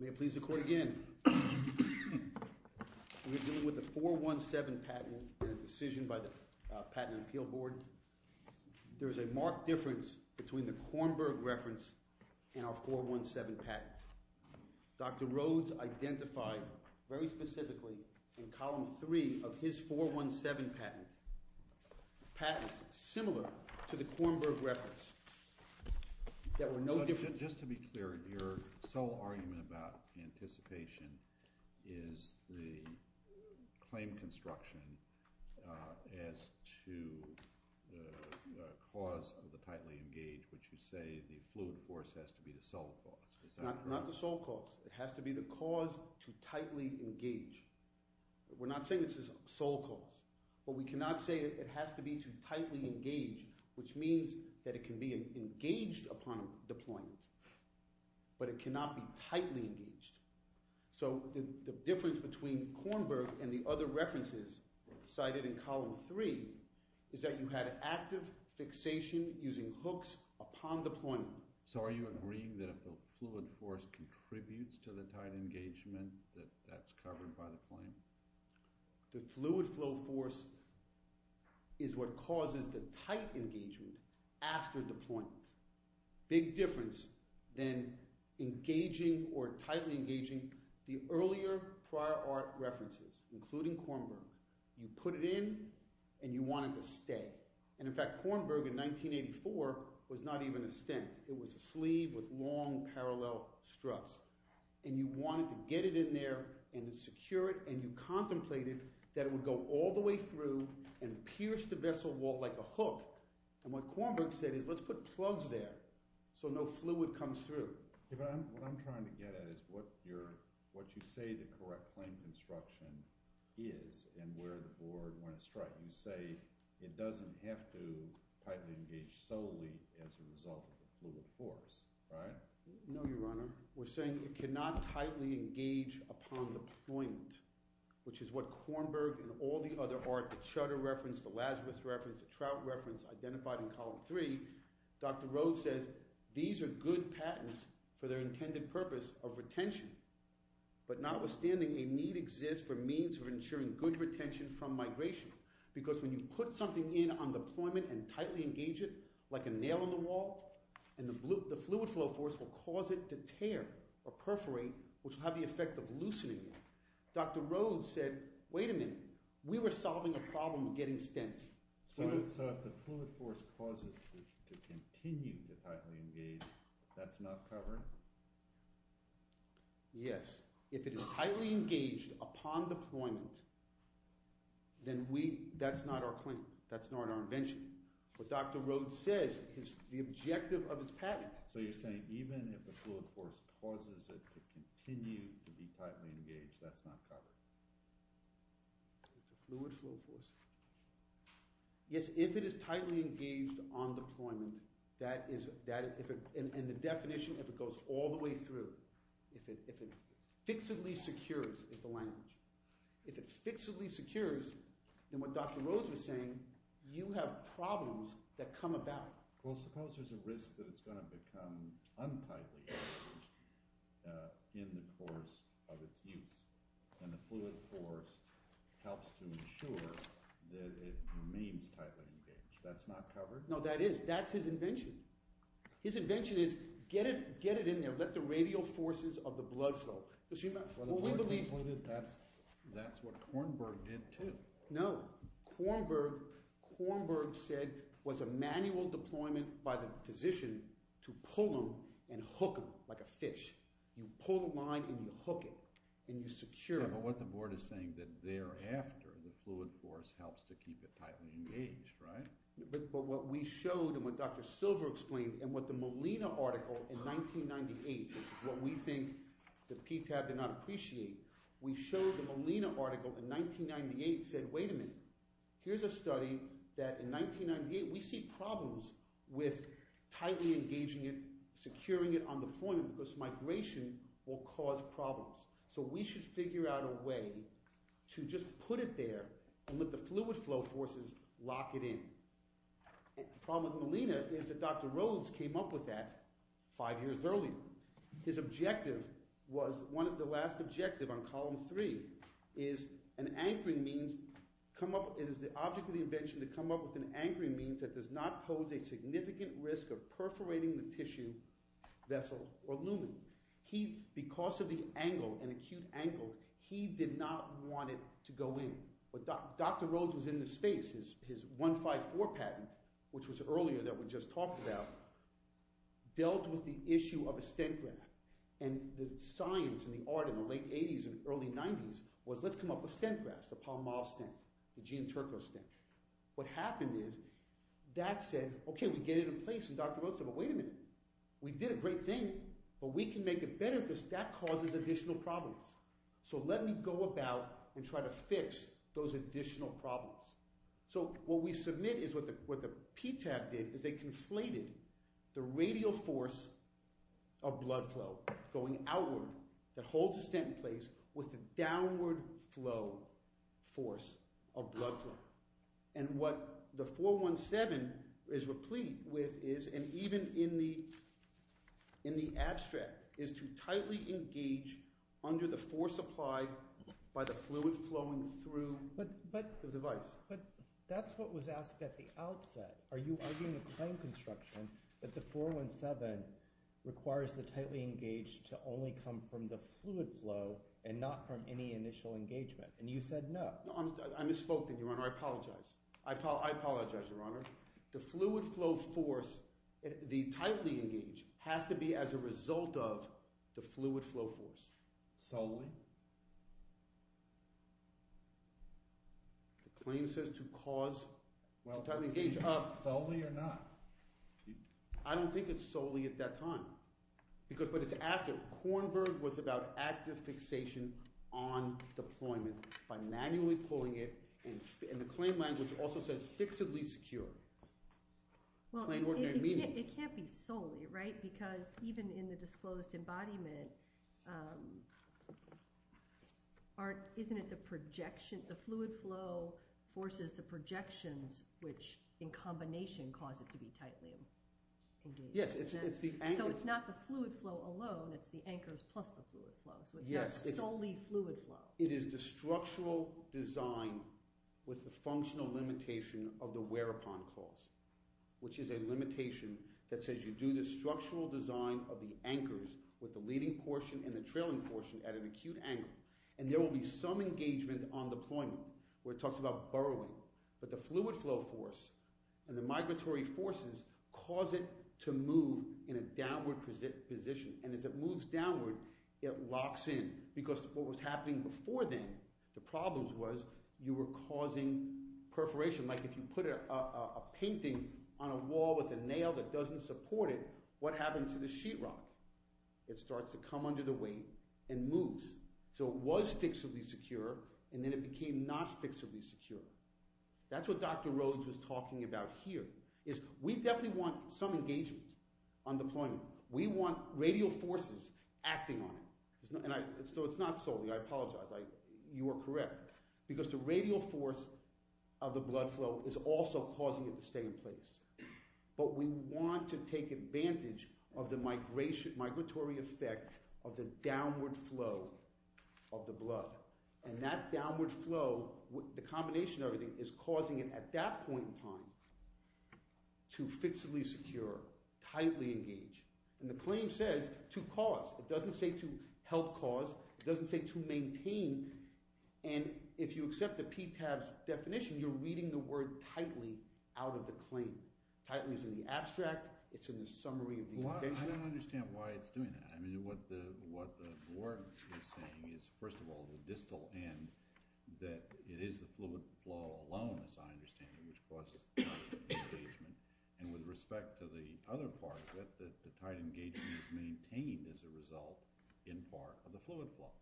May it please the Court again, we are dealing with a 417 patent and a decision by the Patent and Appeal Board. There is a marked difference between the Kornberg reference and our 417 patent. Dr. Rhodes identified very specifically in Column 3 of his 417 patent similar to the Kornberg reference. Just to be clear, your sole argument about anticipation is the claim construction as to the cause of the tightly engaged, which you say the fluid force has to be the solid force. Not the sole cause, it has to be the cause to tightly engage. We're not saying this is sole cause, but we cannot say it has to be to tightly engage, which means that it can be engaged upon deployment, but it cannot be tightly engaged. So the difference between Kornberg and the other references cited in Column 3 is that you had active fixation using hooks upon deployment. So are you agreeing that if the fluid force contributes to the tight engagement, that that's covered by the claim? The fluid flow force is what causes the tight engagement after deployment. Big difference than engaging or tightly engaging the earlier prior art references, including Kornberg. You put it in and you want it to stay. And, in fact, Kornberg in 1984 was not even a stent. It was a sleeve with long parallel struts, and you wanted to get it in there and secure it, and you contemplated that it would go all the way through and pierce the vessel wall like a hook. And what Kornberg said is let's put plugs there so no fluid comes through. What I'm trying to get at is what you say the correct claim construction is and where the board went astray. You say it doesn't have to tightly engage solely as a result of the fluid force, right? No, Your Honor. We're saying it cannot tightly engage upon deployment, which is what Kornberg and all the other art, the Chutter reference, the Lazarus reference, the Trout reference, identified in Column 3. Dr. Rhodes says these are good patents for their intended purpose of retention. But notwithstanding, a need exists for means of ensuring good retention from migration because when you put something in on deployment and tightly engage it like a nail in the wall, the fluid flow force will cause it to tear or perforate, which will have the effect of loosening it. Dr. Rhodes said, wait a minute, we were solving a problem of getting stents. So if the fluid force causes it to continue to tightly engage, that's not covered? Yes. If it is tightly engaged upon deployment, then that's not our claim. That's not our invention. What Dr. Rhodes says is the objective of his patent. So you're saying even if the fluid force causes it to continue to be tightly engaged, that's not covered? It's a fluid flow force. Yes, if it is tightly engaged on deployment, that is – and the definition, if it goes all the way through, if it fixably secures is the language. If it fixably secures, then what Dr. Rhodes was saying, you have problems that come about. Well, suppose there's a risk that it's going to become untightly engaged in the course of its use. And the fluid force helps to ensure that it remains tightly engaged. That's not covered? No, that is. That's his invention. His invention is get it in there. Let the radial forces of the blood flow. Well, that's what Kornberg did too. No. Kornberg said was a manual deployment by the physician to pull him and hook him like a fish. You pull the line and you hook it and you secure it. But what the board is saying that thereafter the fluid force helps to keep it tightly engaged, right? But what we showed and what Dr. Silver explained and what the Molina article in 1998, which is what we think the PTAB did not appreciate, we showed the Molina article in 1998 said, wait a minute, here's a study that in 1998 we see problems with tightly engaging it, securing it on deployment because migration will cause problems. So we should figure out a way to just put it there and let the fluid flow forces lock it in. The problem with Molina is that Dr. Rhodes came up with that five years earlier. His objective was one of the last objective on column three is an anchoring means come up – it is the object of the invention to come up with an anchoring means that does not pose a significant risk of perforating the tissue, vessel, or lumen. Because of the angle, an acute angle, he did not want it to go in. But Dr. Rhodes was in the space. His 154 patent, which was earlier that we just talked about, dealt with the issue of a stent graft. And the science and the art in the late 80s and early 90s was let's come up with stent grafts, the Palmol stent, the Jean Turco stent. What happened is that said, okay, we get it in place. And Dr. Rhodes said, well, wait a minute. We did a great thing, but we can make it better because that causes additional problems. So let me go about and try to fix those additional problems. So what we submit is what the PTAC did is they conflated the radial force of blood flow going outward that holds the stent in place with the downward flow force of blood flow. And what the 417 is replete with is, and even in the abstract, is to tightly engage under the force applied by the fluid flowing through the device. But that's what was asked at the outset. Are you arguing a claim construction that the 417 requires the tightly engaged to only come from the fluid flow and not from any initial engagement? And you said no. No, I misspoke then, Your Honor. I apologize. I apologize, Your Honor. The fluid flow force, the tightly engaged, has to be as a result of the fluid flow force. Solely? The claim says to cause tightly engaged. Well, is it solely or not? I don't think it's solely at that time, but it's after. Kornberg was about active fixation on deployment by manually pulling it, and the claim language also says fixedly secure. Well, it can't be solely, right? Isn't it the projection? The fluid flow forces the projections, which in combination cause it to be tightly engaged. Yes, it's the anchors. So it's not the fluid flow alone. It's the anchors plus the fluid flow. So it's not solely fluid flow. It is the structural design with the functional limitation of the whereupon cause, which is a limitation that says you do the structural design of the anchors with the leading portion and the trailing portion at an acute angle, and there will be some engagement on deployment where it talks about burrowing. But the fluid flow force and the migratory forces cause it to move in a downward position, and as it moves downward, it locks in because what was happening before then, the problem was you were causing perforation. Like if you put a painting on a wall with a nail that doesn't support it, what happens to the sheetrock? It starts to come under the weight and moves. So it was fixably secure, and then it became not fixably secure. That's what Dr. Rhodes was talking about here is we definitely want some engagement on deployment. We want radial forces acting on it. So it's not solely. I apologize. You are correct. Because the radial force of the blood flow is also causing it to stay in place. But we want to take advantage of the migratory effect of the downward flow of the blood, and that downward flow, the combination of everything, is causing it at that point in time to fixably secure, tightly engage. And the claim says to cause. It doesn't say to maintain. And if you accept the PTAB's definition, you're reading the word tightly out of the claim. Tightly is in the abstract. It's in the summary of the invention. I don't understand why it's doing that. I mean what the board is saying is, first of all, the distal end, that it is the fluid flow alone, as I understand it, which causes the tight engagement. And with respect to the other part, that the tight engagement is maintained as a result, in part, of the fluid flow.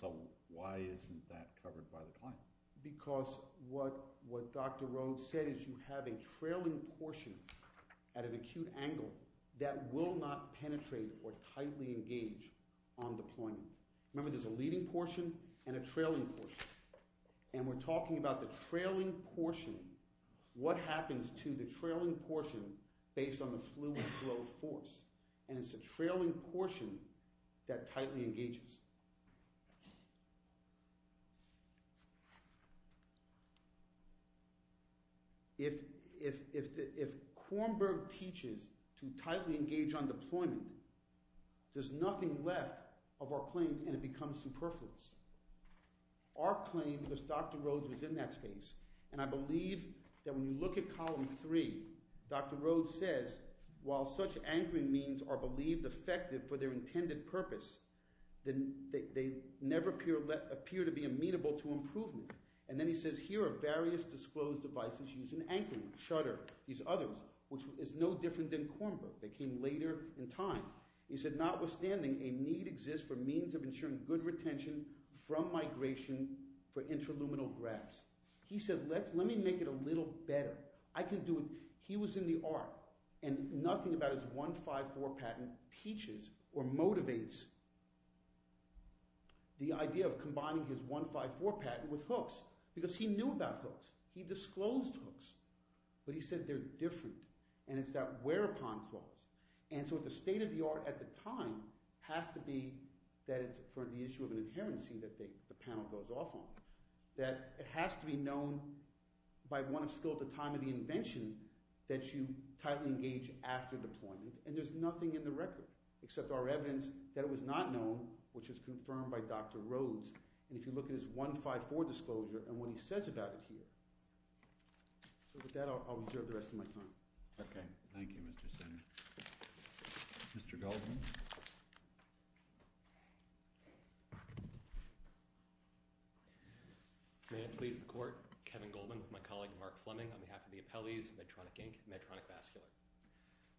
So why isn't that covered by the claim? Because what Dr. Rhodes said is you have a trailing portion at an acute angle that will not penetrate or tightly engage on deployment. Remember there's a leading portion and a trailing portion. And we're talking about the trailing portion, what happens to the trailing portion based on the fluid flow force. And it's the trailing portion that tightly engages. If Kornberg teaches to tightly engage on deployment, there's nothing left of our claim and it becomes superfluous. Our claim, because Dr. Rhodes was in that space, and I believe that when you look at Column 3, Dr. Rhodes says, while such anchoring means are believed effective for their intended purpose, they never appear to be amenable to improvement. And then he says, here are various disclosed devices used in anchoring, shutter, these others, which is no different than Kornberg. They came later in time. He said, notwithstanding, a need exists for means of ensuring good retention from migration for intraluminal grabs. He said, let me make it a little better. He was in the art. And nothing about his 1-5-4 patent teaches or motivates the idea of combining his 1-5-4 patent with hooks, because he knew about hooks. He disclosed hooks. But he said they're different, and it's that whereupon clause. And so the state of the art at the time has to be that it's for the issue of an inherency that the panel goes off on, that it has to be known by one of skill at the time of the invention that you tightly engage after deployment. And there's nothing in the record except our evidence that it was not known, which is confirmed by Dr. Rhodes. And if you look at his 1-5-4 disclosure and what he says about it here. So with that, I'll reserve the rest of my time. Okay. Thank you, Mr. Senator. Mr. Goldman? May it please the court, Kevin Goldman with my colleague Mark Fleming on behalf of the appellees, Medtronic Inc., Medtronic Vascular.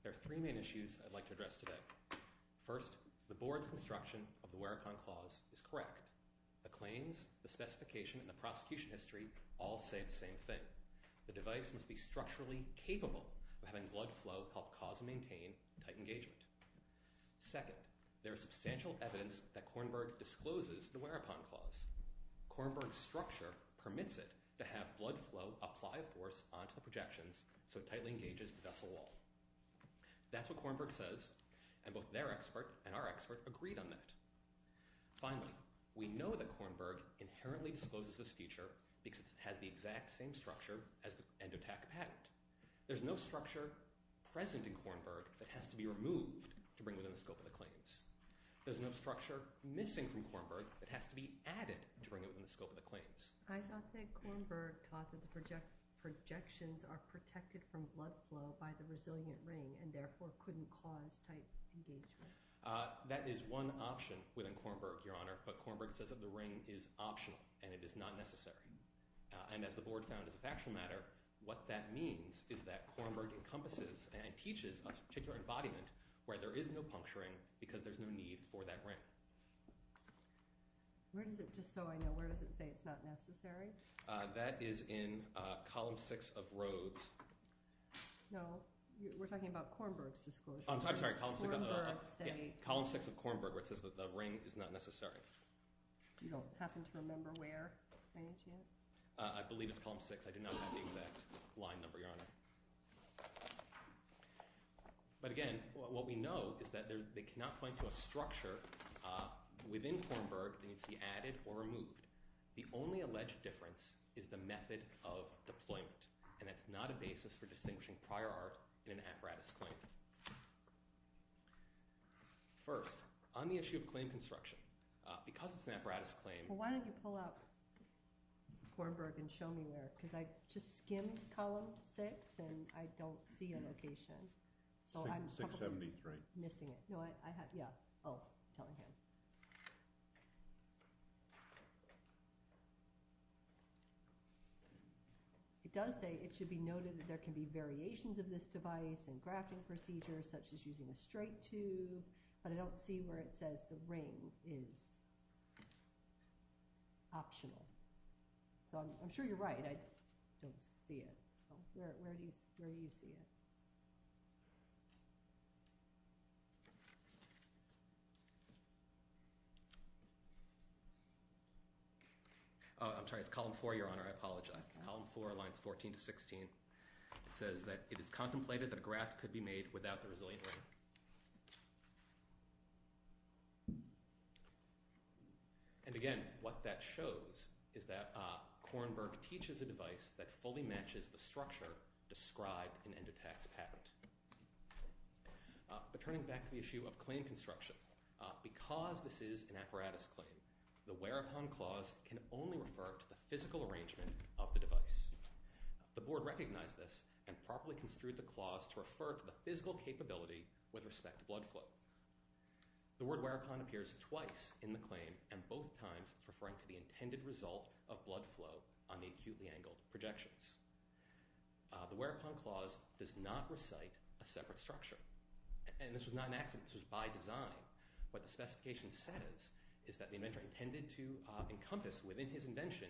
There are three main issues I'd like to address today. First, the board's construction of the whereupon clause is correct. The claims, the specification, and the prosecution history all say the same thing. The device must be structurally capable of having blood flow help cause and maintain tight engagement. Second, there is substantial evidence that Kornberg discloses the whereupon clause. Kornberg's structure permits it to have blood flow apply a force onto the projections so it tightly engages the vessel wall. That's what Kornberg says, and both their expert and our expert agreed on that. Finally, we know that Kornberg inherently discloses this feature because it has the exact same structure as the end-attack patent. There's no structure present in Kornberg that has to be removed to bring within the scope of the claims. There's no structure missing from Kornberg that has to be added to bring it within the scope of the claims. I thought that Kornberg thought that the projections are protected from blood flow by the resilient ring and therefore couldn't cause tight engagement. That is one option within Kornberg, Your Honor, but Kornberg says that the ring is optional and it is not necessary. And as the board found as a factual matter, what that means is that Kornberg encompasses and teaches a particular embodiment where there is no puncturing because there's no need for that ring. Just so I know, where does it say it's not necessary? That is in Column 6 of Rhodes. No, we're talking about Kornberg's disclosure. I'm sorry, Column 6 of Kornberg where it says that the ring is not necessary. Do you happen to remember where, by any chance? I believe it's Column 6. I do not have the exact line number, Your Honor. But again, what we know is that they cannot point to a structure within Kornberg that needs to be added or removed. The only alleged difference is the method of deployment, and that's not a basis for distinguishing prior art in an apparatus claim. First, on the issue of claim construction, because it's an apparatus claim— I don't see a location, so I'm probably missing it. It does say it should be noted that there can be variations of this device and grafting procedures such as using a straight tube, but I don't see where it says the ring is optional. So I'm sure you're right. I just don't see it. Where do you see it? I'm sorry, it's Column 4, Your Honor. I apologize. It's Column 4, lines 14 to 16. It says that it is contemplated that a graft could be made without the resilient ring. And again, what that shows is that Kornberg teaches a device that fully matches the structure described in Endotax Patent. But turning back to the issue of claim construction, because this is an apparatus claim, the whereupon clause can only refer to the physical arrangement of the device. The Board recognized this and properly construed the clause to refer to the physical capability with respect to blood flow. The word whereupon appears twice in the claim, and both times it's referring to the intended result of blood flow on the acutely angled projections. The whereupon clause does not recite a separate structure. And this was not an accident. This was by design. What the specification says is that the inventor intended to encompass within his invention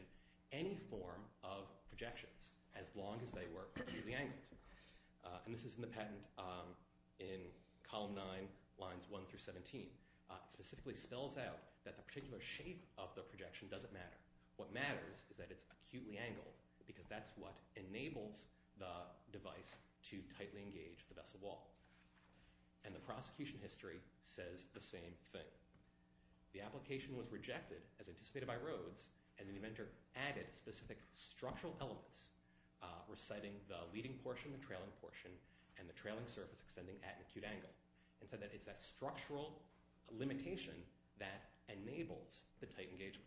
any form of projections as long as they were acutely angled. And this is in the patent in column 9, lines 1 through 17. It specifically spells out that the particular shape of the projection doesn't matter. What matters is that it's acutely angled, because that's what enables the device to tightly engage the vessel wall. And the prosecution history says the same thing. The application was rejected as anticipated by Rhodes, and the inventor added specific structural elements reciting the leading portion, the trailing portion, and the trailing surface extending at an acute angle, and said that it's that structural limitation that enables the tight engagement.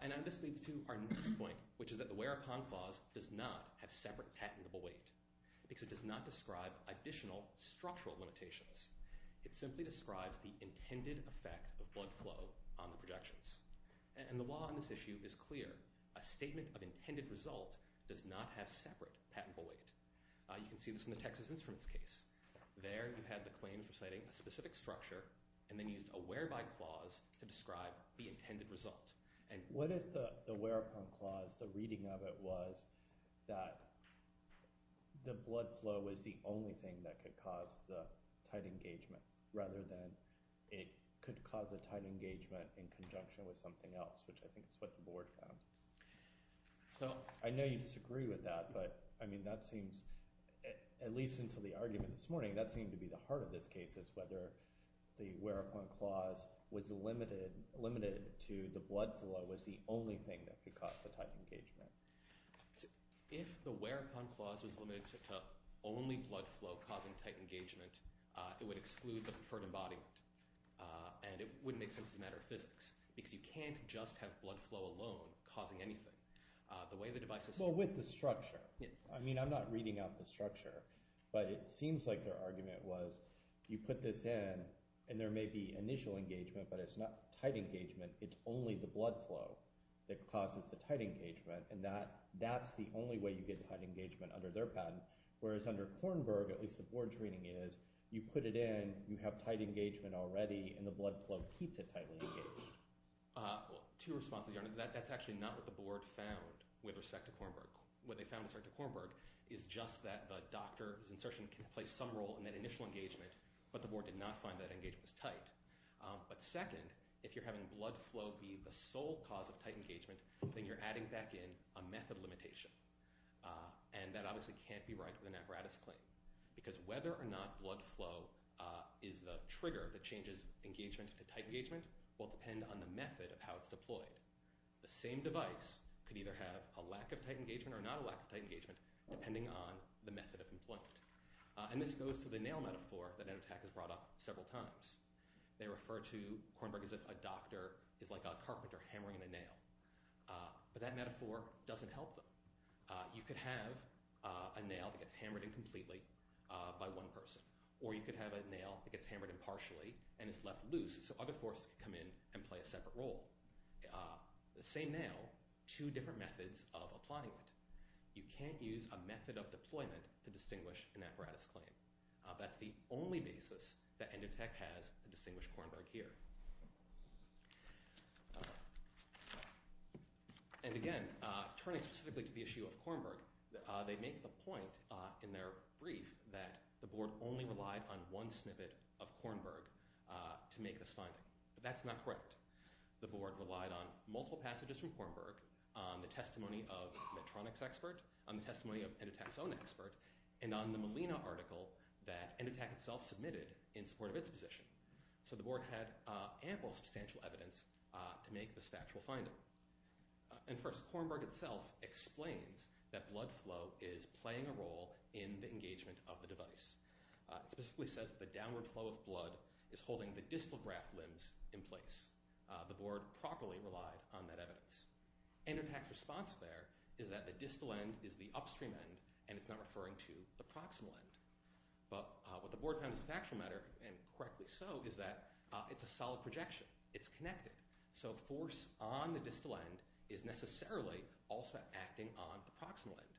And this leads to our next point, which is that the whereupon clause does not have separate patentable weight, because it does not describe additional structural limitations. It simply describes the intended effect of blood flow on the projections. And the law on this issue is clear. A statement of intended result does not have separate patentable weight. You can see this in the Texas Instruments case. There you had the claim for citing a specific structure, and then used a whereby clause to describe the intended result. And what if the whereupon clause, the reading of it, was that the blood flow was the only thing that could cause the tight engagement, rather than it could cause the tight engagement in conjunction with something else, which I think is what the board found. I know you disagree with that, but that seems, at least until the argument this morning, that seemed to be the heart of this case, is whether the whereupon clause was limited to the blood flow was the only thing that could cause the tight engagement. If the whereupon clause was limited to only blood flow causing tight engagement, it would exclude the preferred embodiment, and it wouldn't make sense as a matter of physics, because you can't just have blood flow alone causing anything. The way the device is— Well, with the structure. I mean, I'm not reading out the structure, but it seems like their argument was you put this in, and there may be initial engagement, but it's not tight engagement. It's only the blood flow that causes the tight engagement, and that's the only way you get tight engagement under their patent, whereas under Kornberg, at least the board's reading is, you put it in, you have tight engagement already, and the blood flow keeps it tightly engaged. Two responses. That's actually not what the board found with respect to Kornberg. What they found with respect to Kornberg is just that the doctor's insertion can play some role in that initial engagement, but the board did not find that engagement was tight. But second, if you're having blood flow be the sole cause of tight engagement, then you're adding back in a method limitation, and that obviously can't be right with an apparatus claim because whether or not blood flow is the trigger that changes engagement to tight engagement will depend on the method of how it's deployed. The same device could either have a lack of tight engagement or not a lack of tight engagement, depending on the method of employment. And this goes to the nail metaphor that Enotac has brought up several times. They refer to Kornberg as if a doctor is like a carpenter hammering in a nail, but that metaphor doesn't help them. You could have a nail that gets hammered in completely by one person, or you could have a nail that gets hammered in partially and is left loose so other forces can come in and play a separate role. The same nail, two different methods of applying it. You can't use a method of deployment to distinguish an apparatus claim. That's the only basis that Enotac has to distinguish Kornberg here. And again, turning specifically to the issue of Kornberg, they make the point in their brief that the board only relied on one snippet of Kornberg to make this finding, but that's not correct. The board relied on multiple passages from Kornberg, on the testimony of Medtronic's expert, on the testimony of Enotac's own expert, and on the Molina article that Enotac itself submitted in support of its position. So the board had ample substantial evidence to make this factual finding. And first, Kornberg itself explains that blood flow is playing a role in the engagement of the device. It specifically says that the downward flow of blood is holding the distal graft limbs in place. The board properly relied on that evidence. Enotac's response there is that the distal end is the upstream end, and it's not referring to the proximal end. But what the board found as a factual matter, and correctly so, is that it's a solid projection. It's connected. So force on the distal end is necessarily also acting on the proximal end.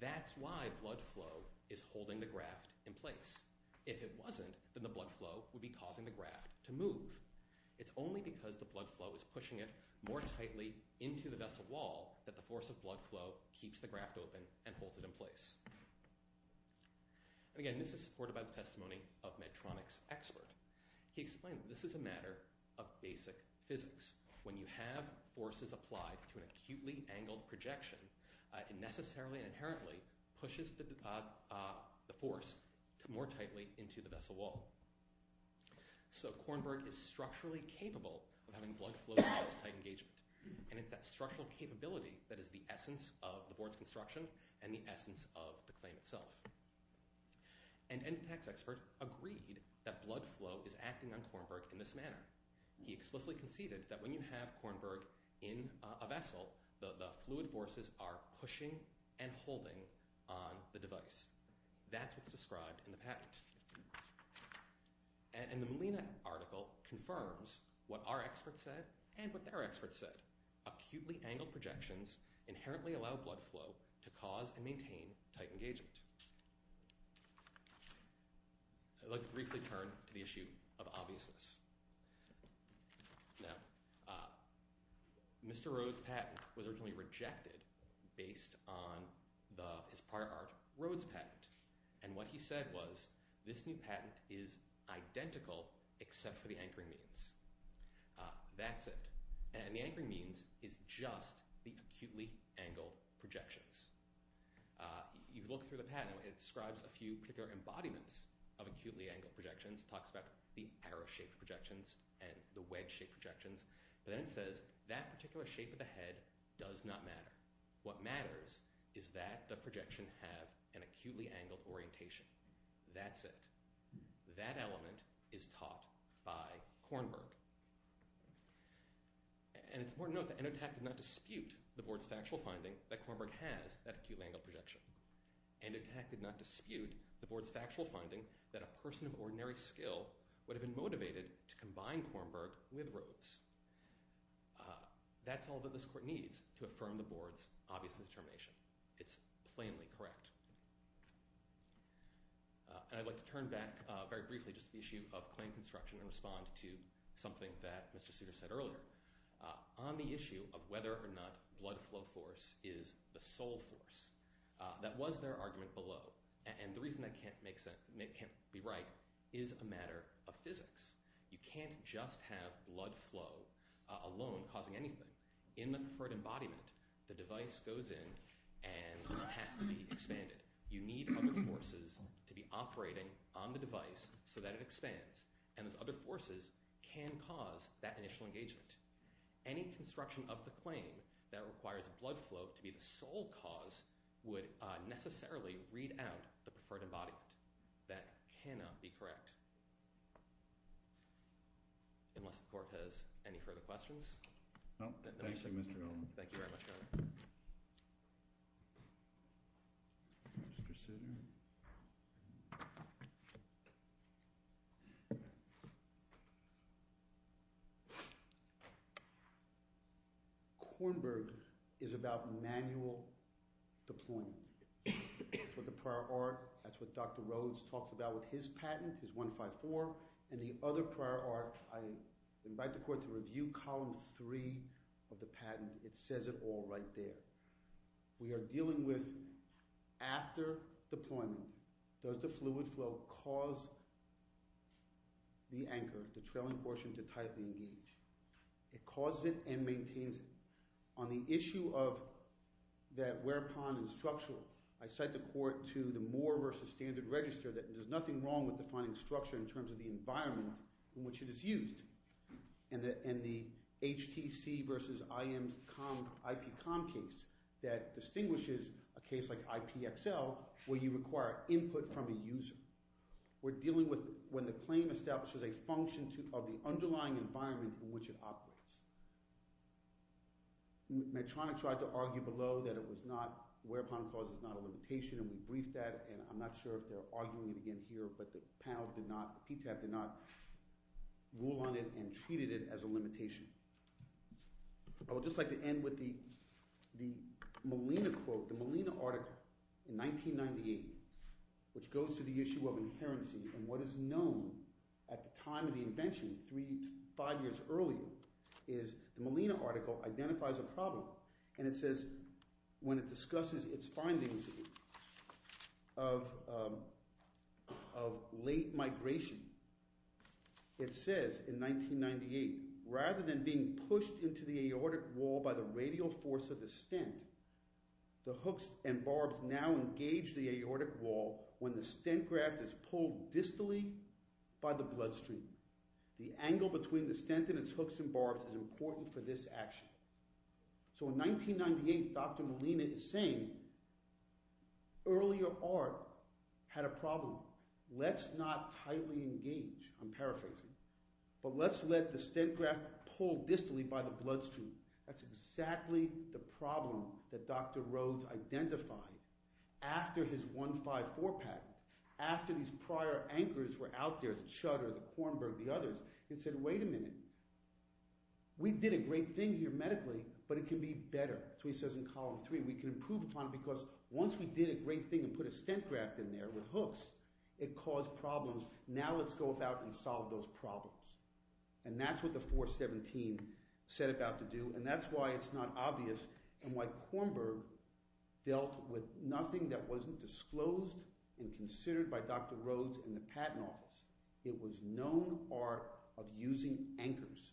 That's why blood flow is holding the graft in place. If it wasn't, then the blood flow would be causing the graft to move. It's only because the blood flow is pushing it more tightly into the vessel wall that the force of blood flow keeps the graft open and holds it in place. And again, this is supported by the testimony of Medtronic's expert. He explained that this is a matter of basic physics. When you have forces applied to an acutely angled projection, it necessarily and inherently pushes the force more tightly into the vessel wall. So Kornberg is structurally capable of having blood flow-tight engagement. And it's that structural capability that is the essence of the board's construction and the essence of the claim itself. An end-to-tax expert agreed that blood flow is acting on Kornberg in this manner. He explicitly conceded that when you have Kornberg in a vessel, the fluid forces are pushing and holding on the device. That's what's described in the patent. And the Molina article confirms what our experts said and what their experts said. Acutely angled projections inherently allow blood flow to cause and maintain tight engagement. I'd like to briefly turn to the issue of obviousness. Now, Mr. Rhodes' patent was originally rejected based on his prior art, Rhodes' patent. And what he said was, this new patent is identical except for the anchoring means. That's it. And the anchoring means is just the acutely angled projections. You look through the patent, it describes a few particular embodiments of acutely angled projections. It talks about the arrow-shaped projections and the wedge-shaped projections. But then it says that particular shape of the head does not matter. What matters is that the projection have an acutely angled orientation. That's it. That element is taught by Kornberg. And it's important to note that Endotax did not dispute the board's factual finding that Kornberg has that acutely angled projection. Endotax did not dispute the board's factual finding that a person of ordinary skill would have been motivated to combine Kornberg with Rhodes. That's all that this court needs to affirm the board's obvious determination. It's plainly correct. And I'd like to turn back very briefly just to the issue of claim construction and respond to something that Mr. Souter said earlier. On the issue of whether or not blood flow force is the sole force, that was their argument below. And the reason that can't be right is a matter of physics. You can't just have blood flow alone causing anything. In the preferred embodiment, the device goes in and has to be expanded. You need other forces to be operating on the device so that it expands. And those other forces can cause that initial engagement. Any construction of the claim that requires blood flow to be the sole cause would necessarily read out the preferred embodiment. That cannot be correct. Unless the court has any further questions. Thank you, Mr. Olin. Kornberg is about manual deployment. That's what the prior art, that's what Dr. Rhodes talks about with his patent, his 154, and the other prior art. I invite the court to review column 3 of the patent. It says it all right there. We are dealing with after deployment. Does the fluid flow cause the anchor, the trailing portion, to tightly engage? It causes it and maintains it. On the issue of that whereupon and structural, I cite the court to the Moore v. Standard Register that there's nothing wrong with defining structure in terms of the environment in which it is used. And the HTC v. IM's IPCOM case that distinguishes a case like IPXL where you require input from a user. We're dealing with when the claim establishes a function of the underlying environment in which it operates. Medtronic tried to argue below that it was not, whereupon clause is not a limitation, and we briefed that, and I'm not sure if they're arguing it again here, but the panel did not, PTAP did not rule on it and treated it as a limitation. I would just like to end with the Molina quote, the Molina article in 1998, which goes to the issue of inherency, and what is known at the time of the invention, five years earlier, is the Molina article identifies a problem, and it says when it discusses its findings of late migration, it says in 1998, rather than being pushed into the aortic wall by the radial force of the stent, the hooks and barbs now engage the aortic wall when the stent graft is pulled distally by the bloodstream. The angle between the stent and its hooks and barbs is important for this action. So in 1998, Dr. Molina is saying earlier art had a problem. Let's not tightly engage, I'm paraphrasing, but let's let the stent graft pull distally by the bloodstream. That's exactly the problem that Dr. Rhodes identified after his 154 patent, after these prior anchors were out there, the Chutter, the Kornberg, the others, and said, wait a minute. We did a great thing here medically, but it can be better. So he says in column three, we can improve upon it because once we did a great thing and put a stent graft in there with hooks, it caused problems. Now let's go about and solve those problems. And that's what the 417 set about to do, and that's why it's not obvious and why Kornberg dealt with nothing that wasn't disclosed and considered by Dr. Rhodes in the patent office. It was known art of using anchors,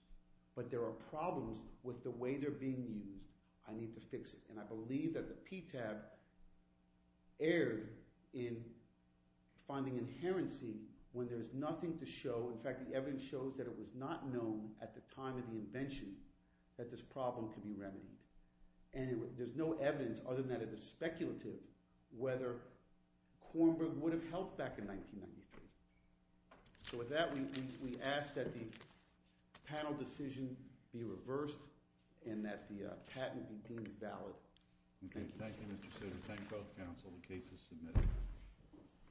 but there are problems with the way they're being used. I need to fix it. And I believe that the PTAB erred in finding inherency when there's nothing to show. In fact, the evidence shows that it was not known at the time of the invention that this problem could be remedied. And there's no evidence other than that it is speculative whether Kornberg would have helped back in 1993. So with that, we ask that the panel decision be reversed and that the patent be deemed valid. Thank you. Thank you, Mr. Sitter. Thank both counsel. The case is submitted.